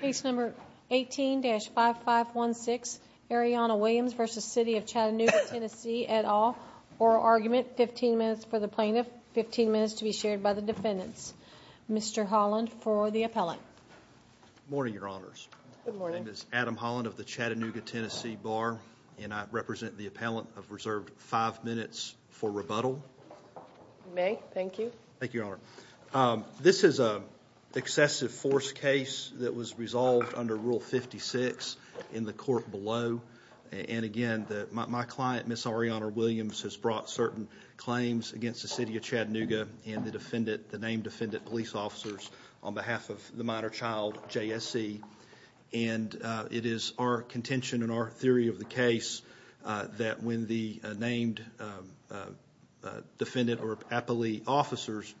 Case number 18-5516, Arianna Williams v. City of Chattanooga, TN, et al. Oral argument, 15 minutes for the plaintiff, 15 minutes to be shared by the defendants. Mr. Holland for the appellant. Good morning, Your Honors. Good morning. My name is Adam Holland of the Chattanooga, TN Bar, and I represent the appellant of reserved 5 minutes for rebuttal. You may. Thank you. Thank you, Your Honor. This is an excessive force case that was resolved under Rule 56 in the court below. And again, my client, Ms. Arianna Williams, has brought certain claims against the City of Chattanooga and the named defendant police officers on behalf of the minor child, JSC. And it is our contention and our theory of the case that when the named defendant or appellee officers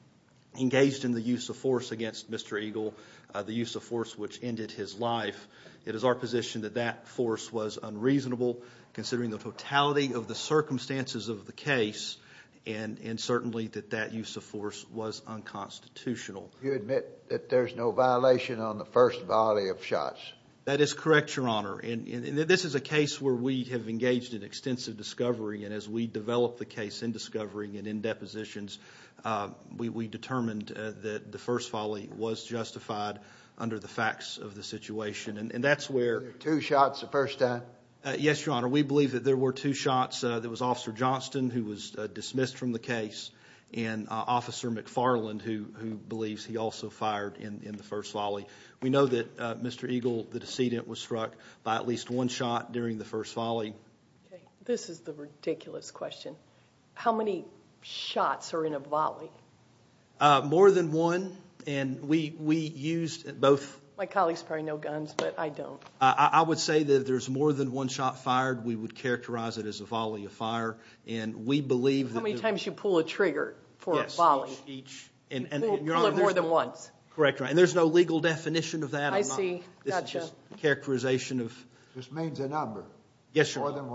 engaged in the use of force against Mr. Eagle, the use of force which ended his life, it is our position that that force was unreasonable considering the totality of the circumstances of the case and certainly that that use of force was unconstitutional. You admit that there's no violation on the first volley of shots. That is correct, Your Honor. And this is a case where we have engaged in extensive discovery. And as we develop the case in discovery and in depositions, we determined that the first volley was justified under the facts of the situation. And that's where— Were there two shots the first time? Yes, Your Honor. We believe that there were two shots. There was Officer Johnston who was dismissed from the case and Officer McFarland who believes he also fired in the first volley. We know that Mr. Eagle, the decedent, was struck by at least one shot during the first volley. Okay. This is the ridiculous question. How many shots are in a volley? More than one. And we used both— My colleagues probably know guns, but I don't. I would say that if there's more than one shot fired, we would characterize it as a volley of fire. And we believe— How many times you pull a trigger for a volley? Yes, each. More than once. Correct, Your Honor. And there's no legal definition of that or not. I see. Gotcha. This is just a characterization of— This means a number. Yes, Your Honor. More than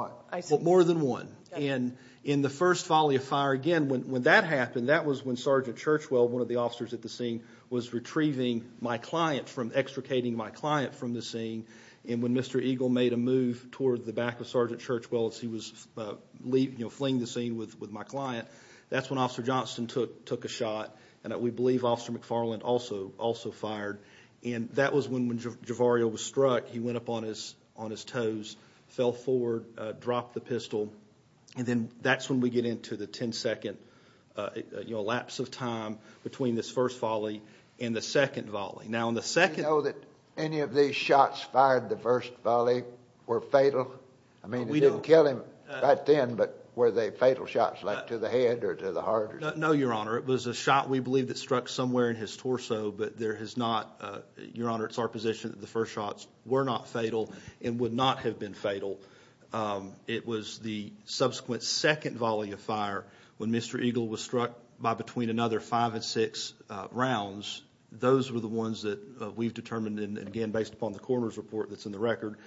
what? More than one. And in the first volley of fire, again, when that happened, that was when Sergeant Churchwell, one of the officers at the scene, was retrieving my client from—extricating my client from the scene. And when Mr. Eagle made a move toward the back of Sergeant Churchwell as he was fleeing the scene with my client, that's when Officer Johnston took a shot. And we believe Officer McFarland also fired. And that was when Javario was struck. He went up on his toes, fell forward, dropped the pistol. And then that's when we get into the 10-second lapse of time between this first volley and the second volley. Now, in the second— Do you know that any of these shots fired the first volley were fatal? I mean, we didn't kill him right then, but were they fatal shots like to the head or to the heart? No, Your Honor. It was a shot we believe that struck somewhere in his torso, but there has not— Your Honor, it's our position that the first shots were not fatal and would not have been fatal. It was the subsequent second volley of fire when Mr. Eagle was struck by between another five and six rounds. Those were the ones that we've determined, and again, based upon the coroner's report that's in the record,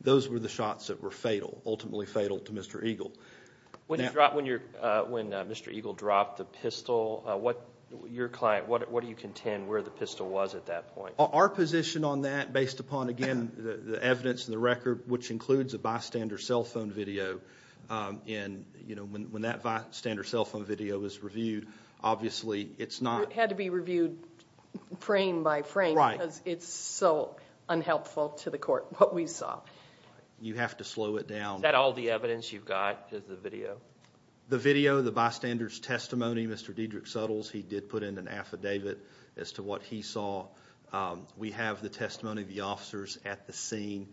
those were the shots that were fatal, ultimately fatal to Mr. Eagle. When Mr. Eagle dropped the pistol, what do you contend where the pistol was at that point? Our position on that, based upon, again, the evidence and the record, which includes a bystander cell phone video, when that bystander cell phone video is reviewed, obviously it's not— It had to be reviewed frame by frame because it's so unhelpful to the court. What we saw. You have to slow it down. Is that all the evidence you've got is the video? The video, the bystander's testimony, Mr. Dedrick Suttles, he did put in an affidavit as to what he saw. We have the testimony of the officers at the scene.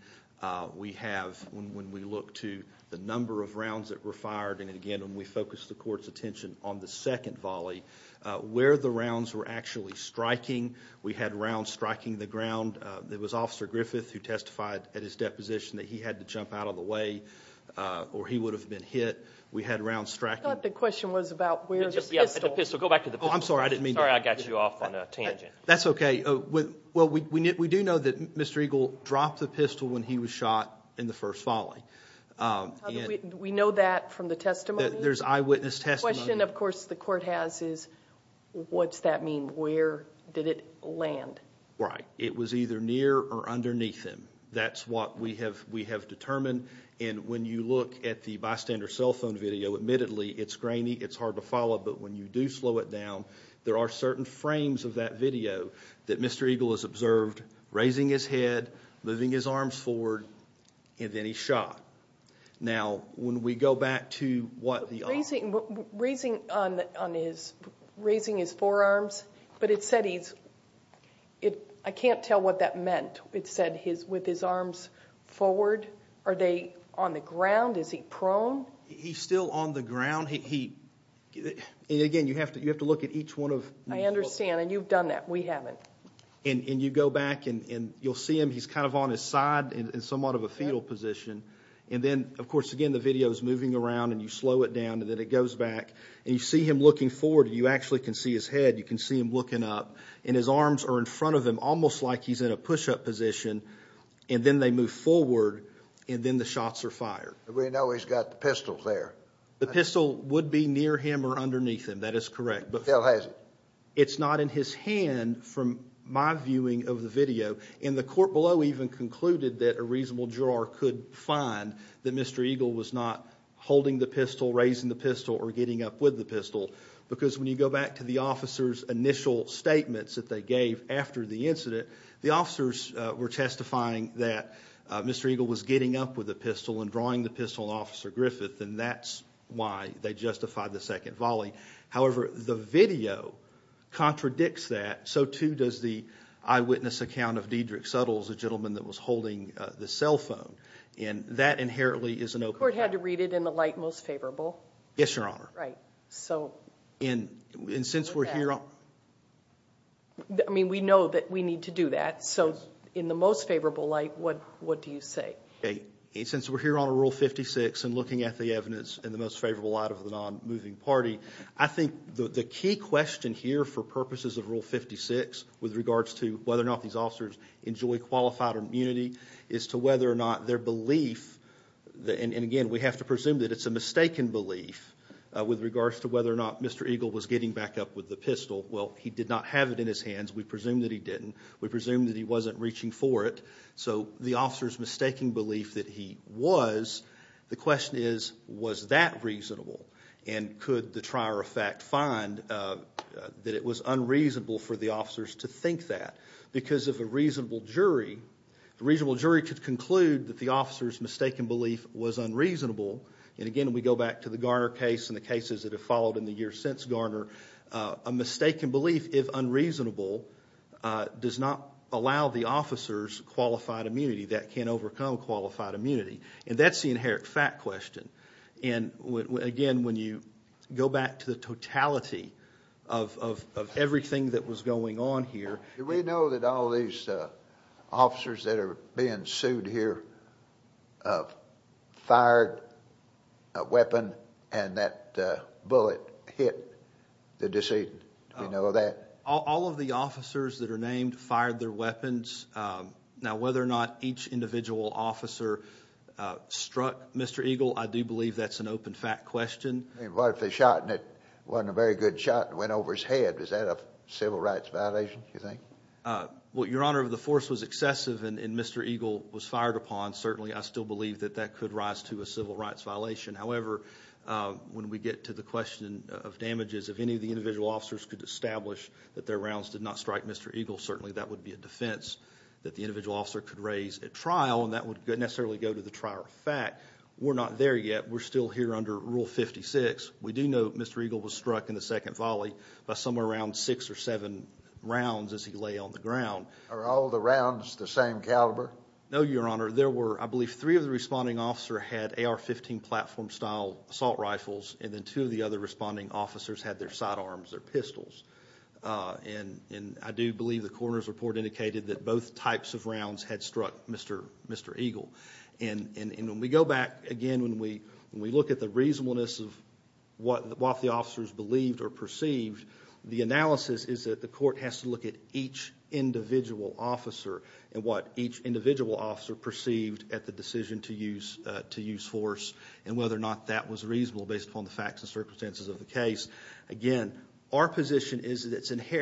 We have, when we look to the number of rounds that were fired, and again, when we focus the court's attention on the second volley, where the rounds were actually striking, we had rounds striking the ground. It was Officer Griffith who testified at his deposition that he had to jump out of the way or he would have been hit. We had rounds striking. I thought the question was about where the pistol— Go back to the pistol. I'm sorry, I didn't mean to— Sorry I got you off on a tangent. That's okay. Well, we do know that Mr. Eagle dropped the pistol when he was shot in the first volley. We know that from the testimony? There's eyewitness testimony. The question, of course, the court has is what's that mean? Where did it land? Right. It was either near or underneath him. That's what we have determined, and when you look at the bystander cell phone video, admittedly it's grainy, it's hard to follow, but when you do slow it down, there are certain frames of that video that Mr. Eagle has observed, raising his head, moving his arms forward, and then he's shot. Now, when we go back to what the— Raising his forearms, but it said he's—I can't tell what that meant. It said with his arms forward. Are they on the ground? Is he prone? He's still on the ground. Again, you have to look at each one of these. I understand, and you've done that. We haven't. And you go back, and you'll see him. He's kind of on his side in somewhat of a fetal position. And then, of course, again, the video is moving around, and you slow it down, and then it goes back, and you see him looking forward, and you actually can see his head. You can see him looking up, and his arms are in front of him, almost like he's in a push-up position, and then they move forward, and then the shots are fired. But we know he's got the pistol there. The pistol would be near him or underneath him. That is correct. But he still has it. It's not in his hand from my viewing of the video, and the court below even concluded that a reasonable juror could find that Mr. Eagle was not holding the pistol, raising the pistol, or getting up with the pistol, because when you go back to the officer's initial statements that they gave after the incident, the officers were testifying that Mr. Eagle was getting up with the pistol and drawing the pistol on Officer Griffith, and that's why they justified the second volley. However, the video contradicts that. So, too, does the eyewitness account of Diedrich Suttles, a gentleman that was holding the cell phone, and that inherently is an open fact. The court had to read it in the light most favorable? Yes, Your Honor. Right. And since we're here on the most favorable light, what do you say? Since we're here on Rule 56 and looking at the evidence in the most favorable light of the non-moving party, I think the key question here for purposes of Rule 56 with regards to whether or not these officers enjoy qualified immunity is to whether or not their belief, and, again, we have to presume that it's a mistaken belief with regards to whether or not Mr. Eagle was getting back up with the pistol. Well, he did not have it in his hands. We presume that he didn't. We presume that he wasn't reaching for it. So the officer's mistaking belief that he was, the question is, was that reasonable? And could the trier of fact find that it was unreasonable for the officers to think that? Because if a reasonable jury could conclude that the officer's mistaken belief was unreasonable, and, again, we go back to the Garner case and the cases that have followed in the years since Garner, a mistaken belief, if unreasonable, does not allow the officers qualified immunity. That can't overcome qualified immunity. And that's the inherent fact question. And, again, when you go back to the totality of everything that was going on here. Do we know that all these officers that are being sued here fired a weapon and that bullet hit the decedent? Do we know that? All of the officers that are named fired their weapons. Now, whether or not each individual officer struck Mr. Eagle, I do believe that's an open fact question. What if the shot wasn't a very good shot and went over his head? Is that a civil rights violation, do you think? Well, Your Honor, if the force was excessive and Mr. Eagle was fired upon, certainly I still believe that that could rise to a civil rights violation. However, when we get to the question of damages, if any of the individual officers could establish that their rounds did not strike Mr. Eagle, certainly that would be a defense that the individual officer could raise at trial, and that would necessarily go to the trial of fact. We're not there yet. We're still here under Rule 56. We do know Mr. Eagle was struck in the second volley by somewhere around six or seven rounds as he lay on the ground. Are all the rounds the same caliber? No, Your Honor. There were, I believe, three of the responding officers had AR-15 platform style assault rifles, and then two of the other responding officers had their sidearms, their pistols. And I do believe the coroner's report indicated that both types of rounds had struck Mr. Eagle. And when we go back again, when we look at the reasonableness of what the officers believed or perceived, the analysis is that the court has to look at each individual officer and what each individual officer perceived at the decision to use force and whether or not that was reasonable based upon the facts and circumstances of the case. Again, our position is that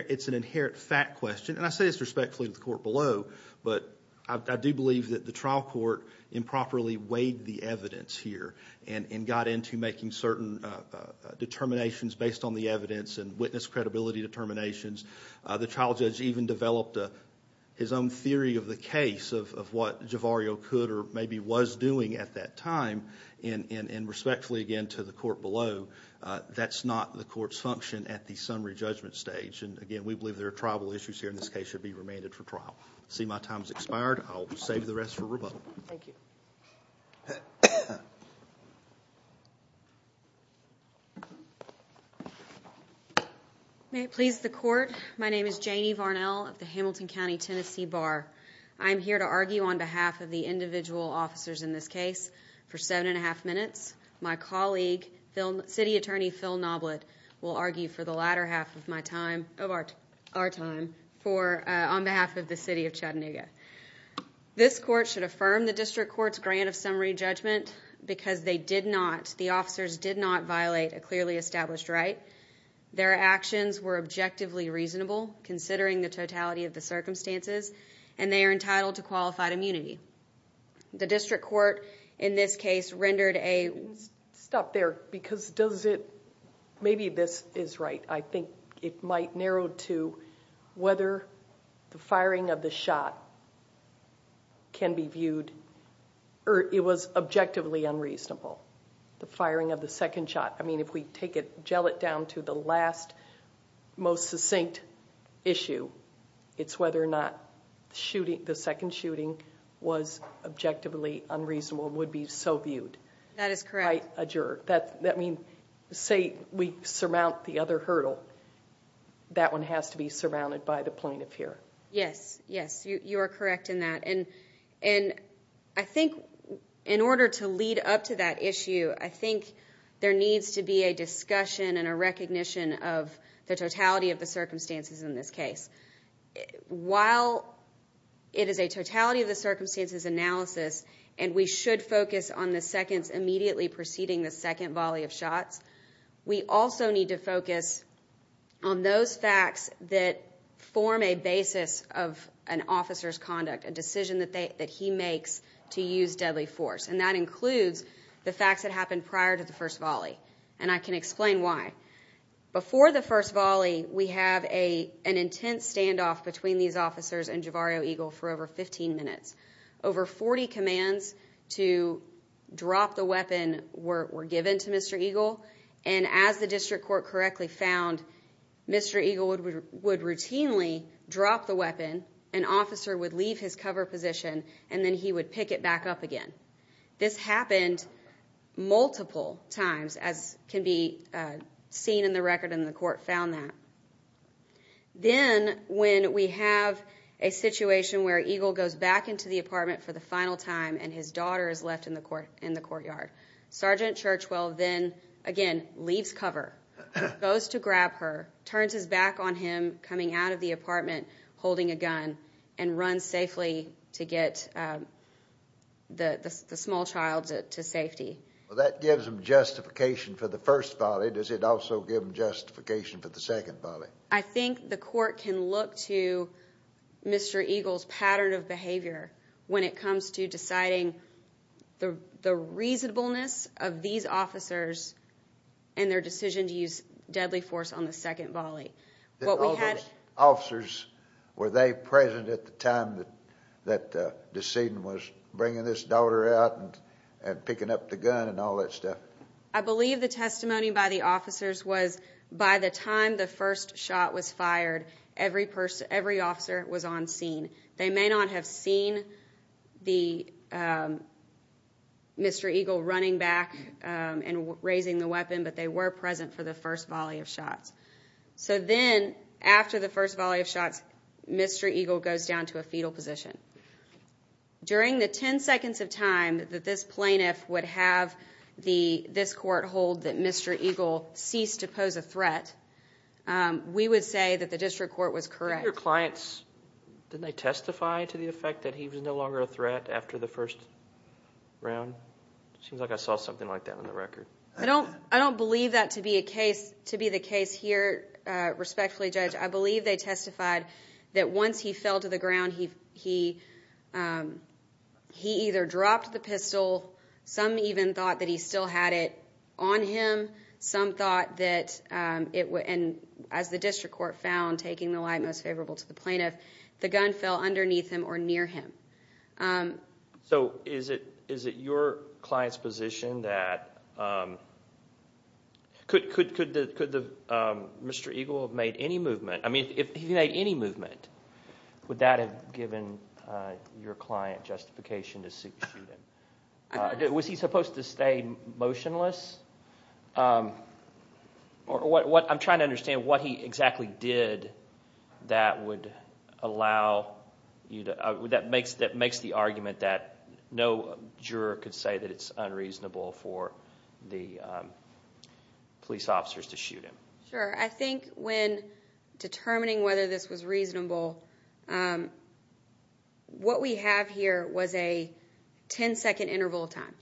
it's an inherent fact question. And I say this respectfully to the court below, but I do believe that the trial court improperly weighed the evidence here and got into making certain determinations based on the evidence and witness credibility determinations. The trial judge even developed his own theory of the case of what Javario could or maybe was doing at that time. And respectfully, again, to the court below, that's not the court's function at the summary judgment stage. And, again, we believe there are tribal issues here, and this case should be remanded for trial. I see my time has expired. I'll save the rest for rebuttal. Thank you. May it please the Court, my name is Janie Varnell of the Hamilton County Tennessee Bar. I'm here to argue on behalf of the individual officers in this case for seven and a half minutes. My colleague, City Attorney Phil Noblitt, will argue for the latter half of my time, of our time, on behalf of the City of Chattanooga. This court should affirm the district court's grant of summary judgment because they did not, the officers did not violate a clearly established right. Their actions were objectively reasonable, considering the totality of the circumstances, and they are entitled to qualified immunity. The district court in this case rendered a... Stop there, because does it, maybe this is right. I think it might narrow to whether the firing of the shot can be viewed, or it was objectively unreasonable. The firing of the second shot. I mean, if we take it, gel it down to the last, most succinct issue, it's whether or not the second shooting was objectively unreasonable, would be so viewed. That is correct. By a juror. That means, say we surmount the other hurdle, that one has to be surrounded by the plaintiff here. Yes, yes, you are correct in that. I think in order to lead up to that issue, I think there needs to be a discussion and a recognition of the totality of the circumstances in this case. While it is a totality of the circumstances analysis, and we should focus on the seconds immediately preceding the second volley of shots, we also need to focus on those facts that form a basis of an officer's conduct, a decision that he makes to use deadly force, and that includes the facts that happened prior to the first volley, and I can explain why. Before the first volley, we have an intense standoff between these officers and Javario Eagle for over 15 minutes. Over 40 commands to drop the weapon were given to Mr. Eagle, and as the district court correctly found, Mr. Eagle would routinely drop the weapon, an officer would leave his cover position, and then he would pick it back up again. This happened multiple times, as can be seen in the record, and the court found that. Then when we have a situation where Eagle goes back into the apartment for the final time and his daughter is left in the courtyard, Sergeant Churchwell then, again, leaves cover, goes to grab her, turns his back on him coming out of the apartment holding a gun, and runs safely to get the small child to safety. That gives him justification for the first volley. Does it also give him justification for the second volley? I think the court can look to Mr. Eagle's pattern of behavior when it comes to deciding the reasonableness of these officers and their decision to use deadly force on the second volley. All those officers, were they present at the time that the scene was bringing this daughter out and picking up the gun and all that stuff? I believe the testimony by the officers was by the time the first shot was fired, every officer was on scene. They may not have seen Mr. Eagle running back and raising the weapon, but they were present for the first volley of shots. Then after the first volley of shots, Mr. Eagle goes down to a fetal position. During the 10 seconds of time that this plaintiff would have this court hold that Mr. Eagle ceased to pose a threat, we would say that the district court was correct. Did your clients testify to the effect that he was no longer a threat after the first round? It seems like I saw something like that on the record. I don't believe that to be the case here, respectfully, Judge. I believe they testified that once he fell to the ground, he either dropped the pistol, some even thought that he still had it on him, and as the district court found, taking the lie most favorable to the plaintiff, the gun fell underneath him or near him. Is it your client's position that could Mr. Eagle have made any movement? Would that have given your client justification to shoot him? Was he supposed to stay motionless? I'm trying to understand what he exactly did that makes the argument that no juror could say that it's unreasonable for the police officers to shoot him. Sure. I think when determining whether this was reasonable, what we have here was a ten-second interval of time.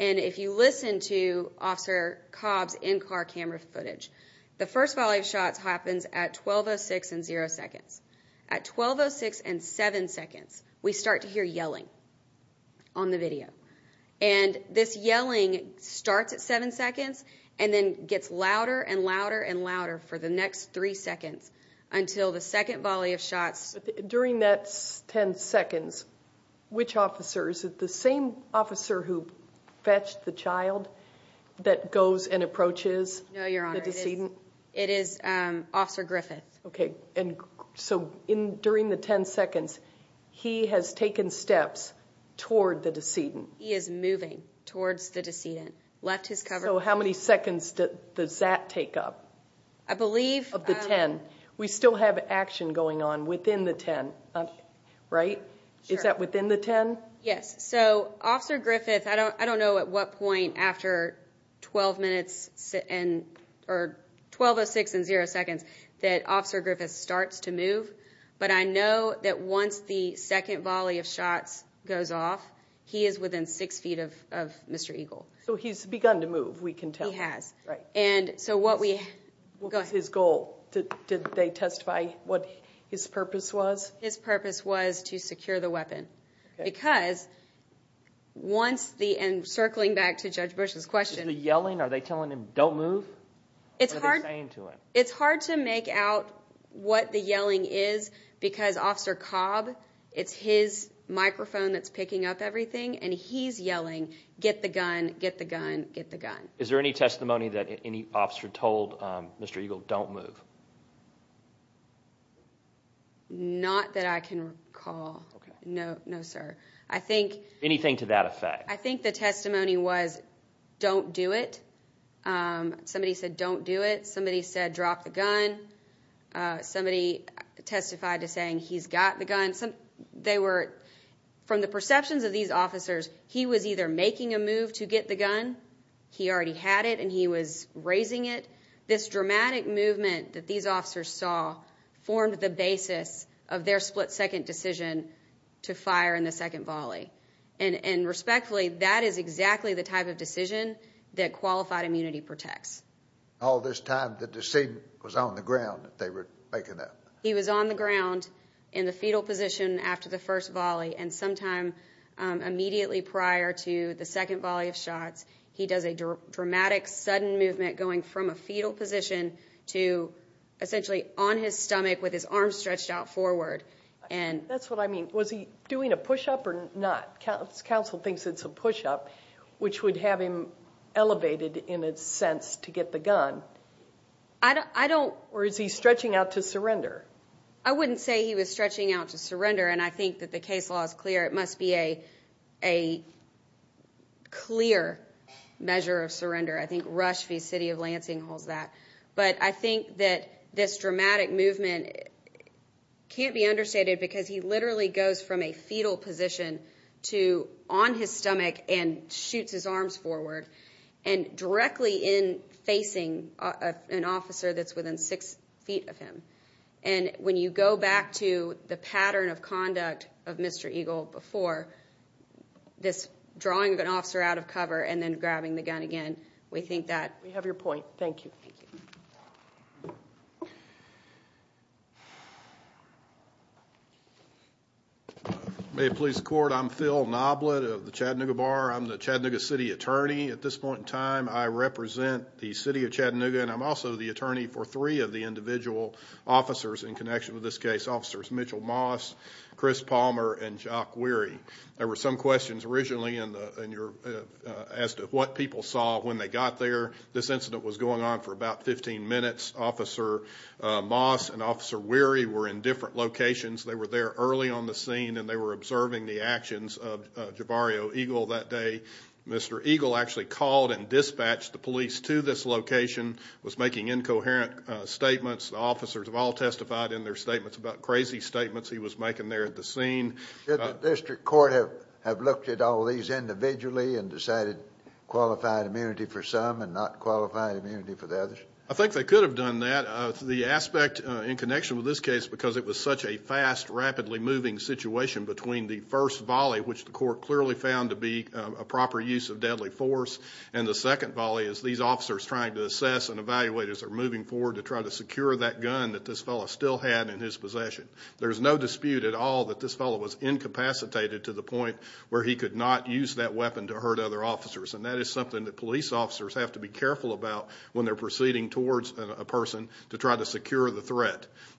And if you listen to Officer Cobb's in-car camera footage, the first volley of shots happens at 12.06 and zero seconds. At 12.06 and seven seconds, we start to hear yelling on the video. And this yelling starts at seven seconds and then gets louder and louder and louder for the next three seconds until the second volley of shots. During that ten seconds, which officer? Is it the same officer who fetched the child that goes and approaches the decedent? No, Your Honor, it is Officer Griffith. Okay. And so during the ten seconds, he has taken steps toward the decedent? He is moving towards the decedent, left his cover. So how many seconds does that take up? I believe— Of the ten. We still have action going on within the ten, right? Is that within the ten? Yes. So, Officer Griffith, I don't know at what point after 12 minutes or 12.06 and zero seconds that Officer Griffith starts to move, but I know that once the second volley of shots goes off, he is within six feet of Mr. Eagle. So he's begun to move, we can tell. He has. Right. And so what we— What was his goal? Did they testify what his purpose was? His purpose was to secure the weapon because once the—and circling back to Judge Bush's question— Is he yelling? Are they telling him, don't move? It's hard— What are they saying to him? It's hard to make out what the yelling is because Officer Cobb, it's his microphone that's picking up everything, and he's yelling, get the gun, get the gun, get the gun. Is there any testimony that any officer told Mr. Eagle, don't move? Not that I can recall. Okay. No, sir. I think— Anything to that effect? I think the testimony was, don't do it. Somebody said, don't do it. Somebody said, drop the gun. Somebody testified to saying, he's got the gun. They were—from the perceptions of these officers, he was either making a move to get the gun, he already had it, and he was raising it. This dramatic movement that these officers saw formed the basis of their split-second decision to fire in the second volley. And respectfully, that is exactly the type of decision that qualified immunity protects. All this time, the decedent was on the ground that they were making that? He was on the ground in the fetal position after the first volley, and sometime immediately prior to the second volley of shots, he does a dramatic, sudden movement going from a fetal position to essentially on his stomach with his arms stretched out forward. That's what I mean. Was he doing a push-up or not? Counsel thinks it's a push-up, which would have him elevated in a sense to get the gun. I don't— Or is he stretching out to surrender? I wouldn't say he was stretching out to surrender, and I think that the case law is clear. It must be a clear measure of surrender. I think Rush v. City of Lansing holds that. But I think that this dramatic movement can't be understated because he literally goes from a fetal position to on his stomach and shoots his arms forward and directly in facing an officer that's within six feet of him. And when you go back to the pattern of conduct of Mr. Eagle before, this drawing of an officer out of cover and then grabbing the gun again, we think that— We have your point. Thank you. Thank you. May it please the Court, I'm Phil Knoblett of the Chattanooga Bar. I'm the Chattanooga City Attorney at this point in time. I represent the City of Chattanooga, and I'm also the attorney for three of the individual officers in connection with this case, Officers Mitchell Moss, Chris Palmer, and Jacques Wehry. There were some questions originally as to what people saw when they got there. This incident was going on for about 15 minutes. Officer Moss and Officer Wehry were in different locations. They were there early on the scene, and they were observing the actions of Javario Eagle that day. Mr. Eagle actually called and dispatched the police to this location, was making incoherent statements. The officers have all testified in their statements about crazy statements he was making there at the scene. Did the district court have looked at all these individually and decided qualified immunity for some and not qualified immunity for the others? I think they could have done that. The aspect in connection with this case, because it was such a fast, rapidly moving situation between the first volley, which the court clearly found to be a proper use of deadly force, and the second volley is these officers trying to assess and evaluate as they're moving forward to try to secure that gun that this fellow still had in his possession. There's no dispute at all that this fellow was incapacitated to the point where he could not use that weapon to hurt other officers, and that is something that police officers have to be careful about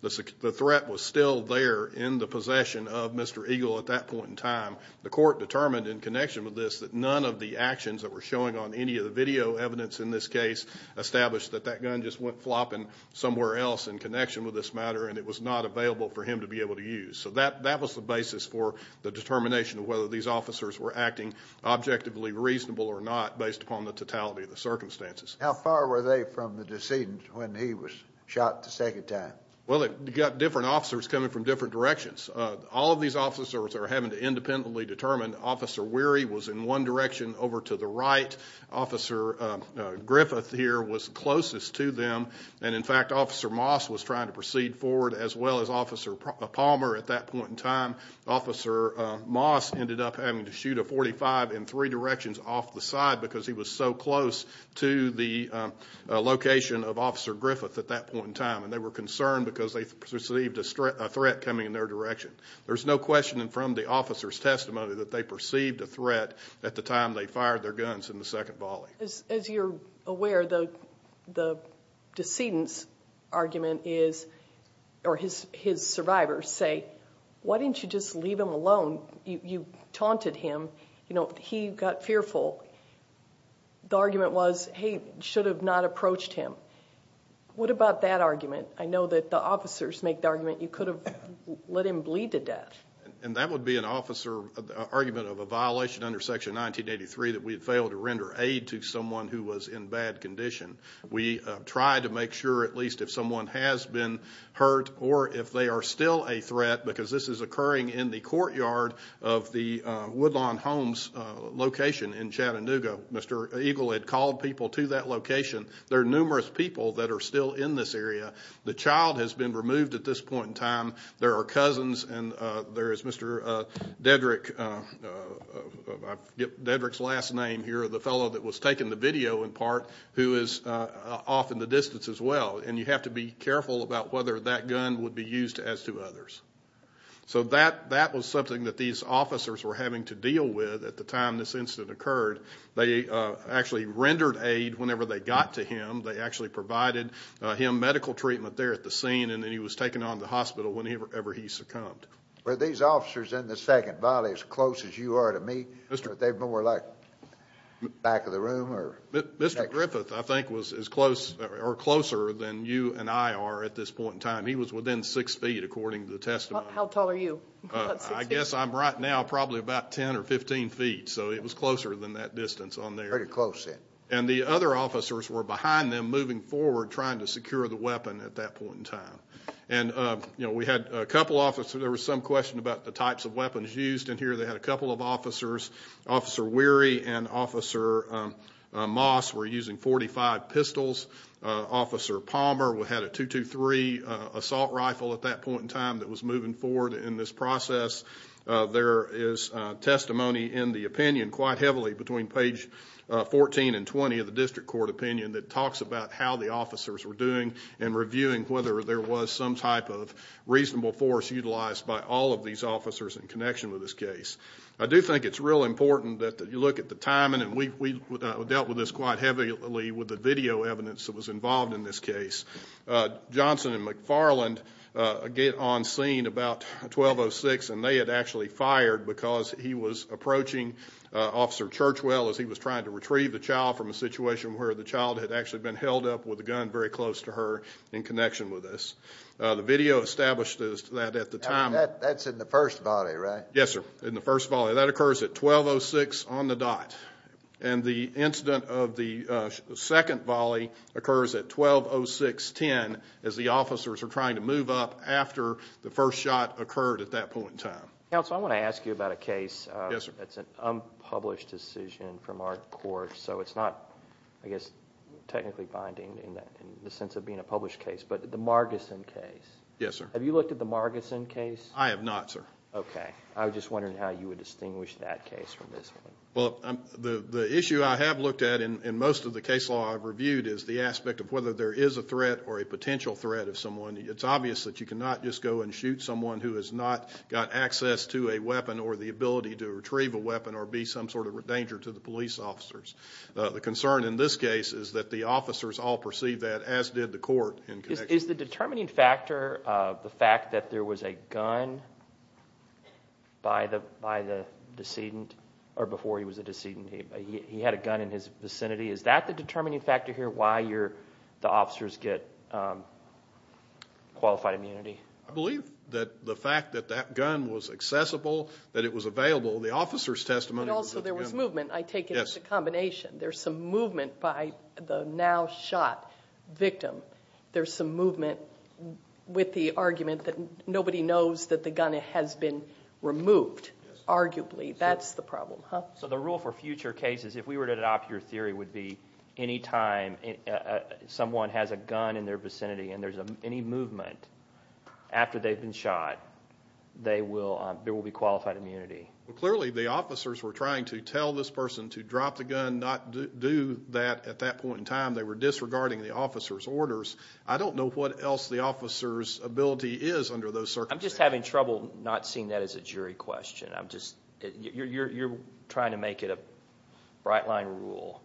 The threat was still there in the possession of Mr. Eagle at that point in time. The court determined in connection with this that none of the actions that were showing on any of the video evidence in this case established that that gun just went flopping somewhere else in connection with this matter and it was not available for him to be able to use. So that was the basis for the determination of whether these officers were acting objectively reasonable or not based upon the totality of the circumstances. How far were they from the decedent when he was shot the second time? Well, you've got different officers coming from different directions. All of these officers are having to independently determine Officer Weary was in one direction over to the right, Officer Griffith here was closest to them, and in fact, Officer Moss was trying to proceed forward as well as Officer Palmer at that point in time. Officer Moss ended up having to shoot a .45 in three directions off the side because he was so close to the location of Officer Griffith at that point in time, and they were concerned because they perceived a threat coming in their direction. There's no question from the officer's testimony that they perceived a threat at the time they fired their guns in the second volley. As you're aware, the decedent's argument is, or his survivors say, why didn't you just leave him alone? You taunted him. He got fearful. The argument was, hey, you should have not approached him. What about that argument? I know that the officers make the argument you could have let him bleed to death. And that would be an argument of a violation under Section 1983 that we had failed to render aid to someone who was in bad condition. We tried to make sure at least if someone has been hurt or if they are still a threat because this is occurring in the courtyard of the Woodlawn Homes location in Chattanooga. Mr. Eagle had called people to that location. There are numerous people that are still in this area. The child has been removed at this point in time. There are cousins, and there is Mr. Dedrick. I forget Dedrick's last name here, the fellow that was taking the video in part, who is off in the distance as well. And you have to be careful about whether that gun would be used as to others. So that was something that these officers were having to deal with at the time this incident occurred. They actually rendered aid whenever they got to him. They actually provided him medical treatment there at the scene, and then he was taken on to the hospital whenever he succumbed. Were these officers in the second body as close as you are to me? Were they more like back of the room? Mr. Griffith, I think, was closer than you and I are at this point in time. He was within six feet, according to the testimony. How tall are you? I guess I'm right now probably about 10 or 15 feet, so it was closer than that distance on there. Very close, yes. And the other officers were behind them, moving forward, trying to secure the weapon at that point in time. And we had a couple officers. There was some question about the types of weapons used in here. They had a couple of officers. Officer Weary and Officer Moss were using .45 pistols. Officer Palmer had a .223 assault rifle at that point in time that was moving forward in this process. There is testimony in the opinion quite heavily between page 14 and 20 of the district court opinion that talks about how the officers were doing and reviewing whether there was some type of reasonable force utilized by all of these officers in connection with this case. I do think it's real important that you look at the timing, and we dealt with this quite heavily with the video evidence that was involved in this case. Johnson and McFarland get on scene about 12.06, and they had actually fired because he was approaching Officer Churchwell as he was trying to retrieve the child from a situation where the child had actually been held up with a gun very close to her in connection with this. The video established that at the time. That's in the first volley, right? Yes, sir, in the first volley. That occurs at 12.06 on the dot. And the incident of the second volley occurs at 12.06.10 as the officers are trying to move up after the first shot occurred at that point in time. Counsel, I want to ask you about a case. Yes, sir. It's an unpublished decision from our court, so it's not, I guess, technically binding in the sense of being a published case. But the Margison case. Yes, sir. Have you looked at the Margison case? I have not, sir. Okay. I was just wondering how you would distinguish that case from this one. Well, the issue I have looked at in most of the case law I've reviewed is the aspect of whether there is a threat or a potential threat of someone. or the ability to retrieve a weapon or be some sort of danger to the police officers. The concern in this case is that the officers all perceive that, as did the court. Is the determining factor the fact that there was a gun by the decedent, or before he was a decedent, he had a gun in his vicinity? Is that the determining factor here, why the officers get qualified immunity? I believe that the fact that that gun was accessible, that it was available, the officer's testimony was available. But also there was movement. I take it as a combination. There's some movement by the now shot victim. There's some movement with the argument that nobody knows that the gun has been removed, arguably. That's the problem, huh? So the rule for future cases, if we were to adopt your theory, would be any time someone has a gun in their vicinity and there's any movement after they've been shot, there will be qualified immunity. Clearly the officers were trying to tell this person to drop the gun, not do that at that point in time. They were disregarding the officer's orders. I don't know what else the officer's ability is under those circumstances. I'm just having trouble not seeing that as a jury question. You're trying to make it a bright line rule.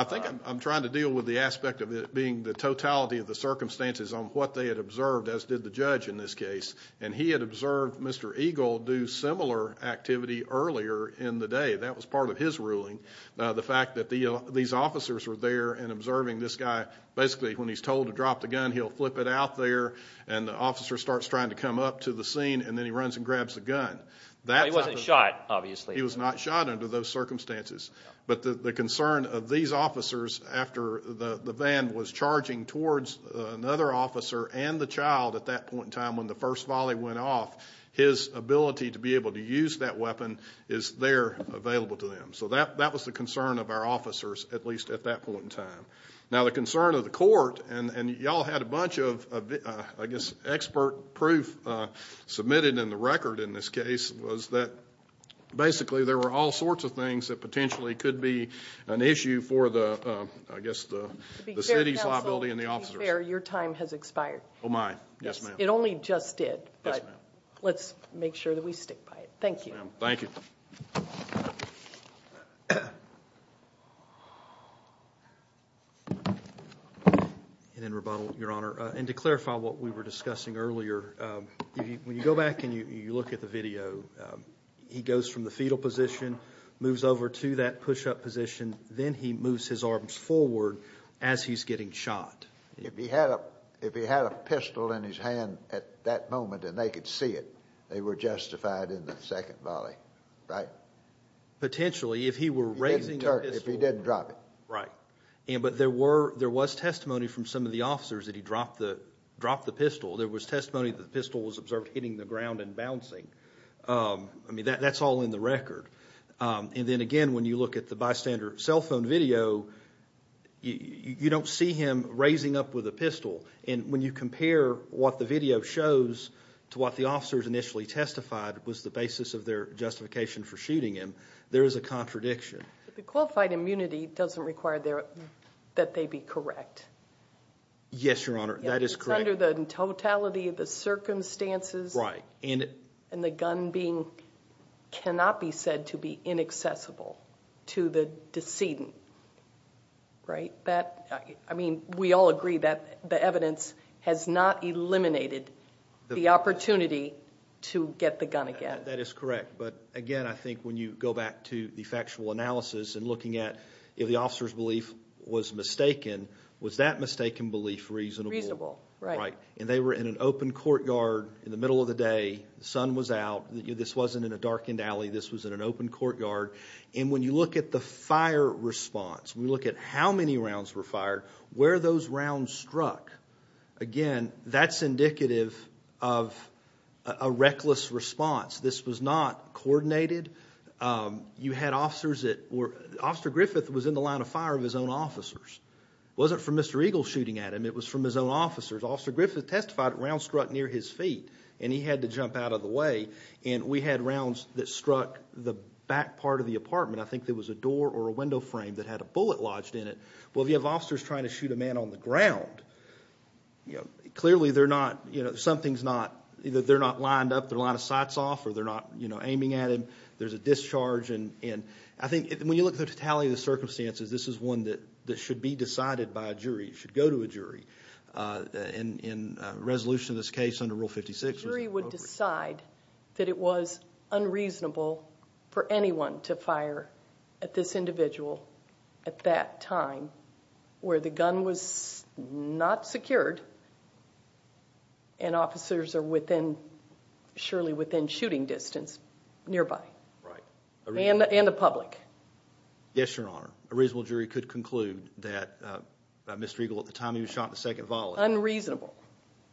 I think I'm trying to deal with the aspect of it being the totality of the circumstances on what they had observed, as did the judge in this case. And he had observed Mr. Eagle do similar activity earlier in the day. That was part of his ruling. The fact that these officers were there and observing this guy, basically when he's told to drop the gun, he'll flip it out there, and the officer starts trying to come up to the scene, and then he runs and grabs the gun. He wasn't shot, obviously. He was not shot under those circumstances. But the concern of these officers after the van was charging towards another officer and the child at that point in time when the first volley went off, his ability to be able to use that weapon is there available to them. So that was the concern of our officers, at least at that point in time. Now the concern of the court, and you all had a bunch of, I guess, expert proof submitted in the record in this case, was that basically there were all sorts of things that potentially could be an issue for the city's liability and the officers. To be fair, your time has expired. Oh, my. Yes, ma'am. It only just did. Yes, ma'am. Let's make sure that we stick by it. Thank you. Thank you. And in rebuttal, Your Honor, and to clarify what we were discussing earlier, when you go back and you look at the video, he goes from the fetal position, moves over to that push-up position, then he moves his arms forward as he's getting shot. If he had a pistol in his hand at that moment and they could see it, they were justified in the second volley, right? Potentially, if he were raising a pistol. If he didn't drop it. Right. But there was testimony from some of the officers that he dropped the pistol. There was testimony that the pistol was observed hitting the ground and bouncing. I mean, that's all in the record. And then, again, when you look at the bystander cell phone video, you don't see him raising up with a pistol. And when you compare what the video shows to what the officers initially testified was the basis of their justification for shooting him, there is a contradiction. The qualified immunity doesn't require that they be correct. Yes, Your Honor. That is correct. It's under the totality of the circumstances. Right. And the gun cannot be said to be inaccessible to the decedent, right? I mean, we all agree that the evidence has not eliminated the opportunity to get the gun again. That is correct. But, again, I think when you go back to the factual analysis and looking at if the officer's belief was mistaken, was that mistaken belief reasonable? Reasonable, right. And they were in an open courtyard in the middle of the day. The sun was out. This wasn't in a darkened alley. This was in an open courtyard. And when you look at the fire response, when you look at how many rounds were fired, where those rounds struck, again, that's indicative of a reckless response. This was not coordinated. You had officers that were—Officer Griffith was in the line of fire of his own officers. It wasn't from Mr. Eagle shooting at him. It was from his own officers. Officer Griffith testified that rounds struck near his feet, and he had to jump out of the way. And we had rounds that struck the back part of the apartment. I think there was a door or a window frame that had a bullet lodged in it. Well, if you have officers trying to shoot a man on the ground, clearly they're not lined up, they're a lot of sights off, or they're not aiming at him. There's a discharge. I think when you look at the totality of the circumstances, this is one that should be decided by a jury. It should go to a jury. In resolution of this case under Rule 56— A jury would decide that it was unreasonable for anyone to fire at this individual at that time where the gun was not secured and officers are within—surely within shooting distance nearby. Right. And the public. Yes, Your Honor. A reasonable jury could conclude that Mr. Eagle, at the time he was shot in the second volley— Unreasonable.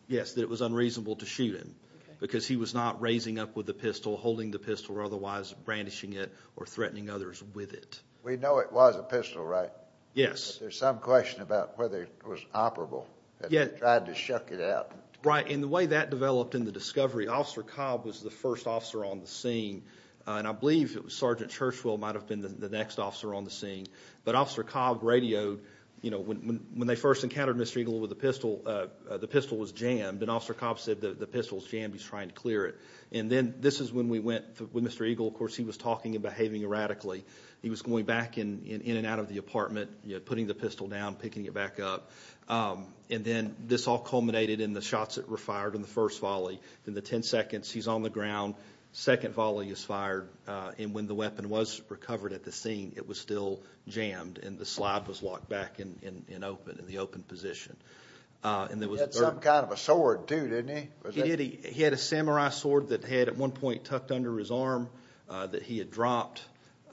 Yes, that it was unreasonable to shoot him because he was not raising up with the pistol, holding the pistol or otherwise brandishing it or threatening others with it. We know it was a pistol, right? Yes. There's some question about whether it was operable. Yes. They tried to shuck it out. Right. And the way that developed in the discovery, Officer Cobb was the first officer on the scene, and I believe it was Sergeant Churchwell might have been the next officer on the scene. But Officer Cobb radioed, you know, when they first encountered Mr. Eagle with the pistol, the pistol was jammed, and Officer Cobb said, the pistol's jammed, he's trying to clear it. And then this is when we went with Mr. Eagle. Of course, he was talking and behaving erratically. He was going back in and out of the apartment, putting the pistol down, picking it back up. And then this all culminated in the shots that were fired in the first volley. In the ten seconds, he's on the ground, second volley is fired, and when the weapon was recovered at the scene, it was still jammed, and the slide was locked back in open, in the open position. He had some kind of a sword, too, didn't he? He did. He had a samurai sword that he had at one point tucked under his arm that he had dropped,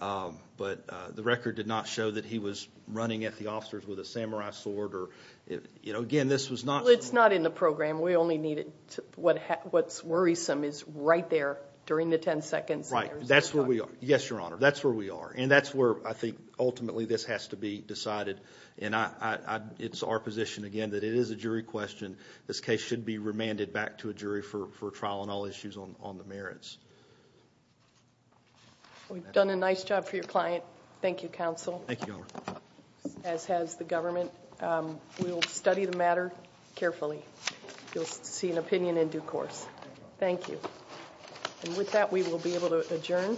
but the record did not show that he was running at the officers with a samurai sword or, you know, again, this was not. Well, it's not in the program. We only needed what's worrisome is right there during the ten seconds. Right. That's where we are. Yes, Your Honor, that's where we are. And that's where I think ultimately this has to be decided, and it's our position, again, that it is a jury question. And this case should be remanded back to a jury for trial on all issues on the merits. We've done a nice job for your client. Thank you, counsel. Thank you, Your Honor. As has the government. We will study the matter carefully. You'll see an opinion in due course. Thank you. And with that, we will be able to adjourn.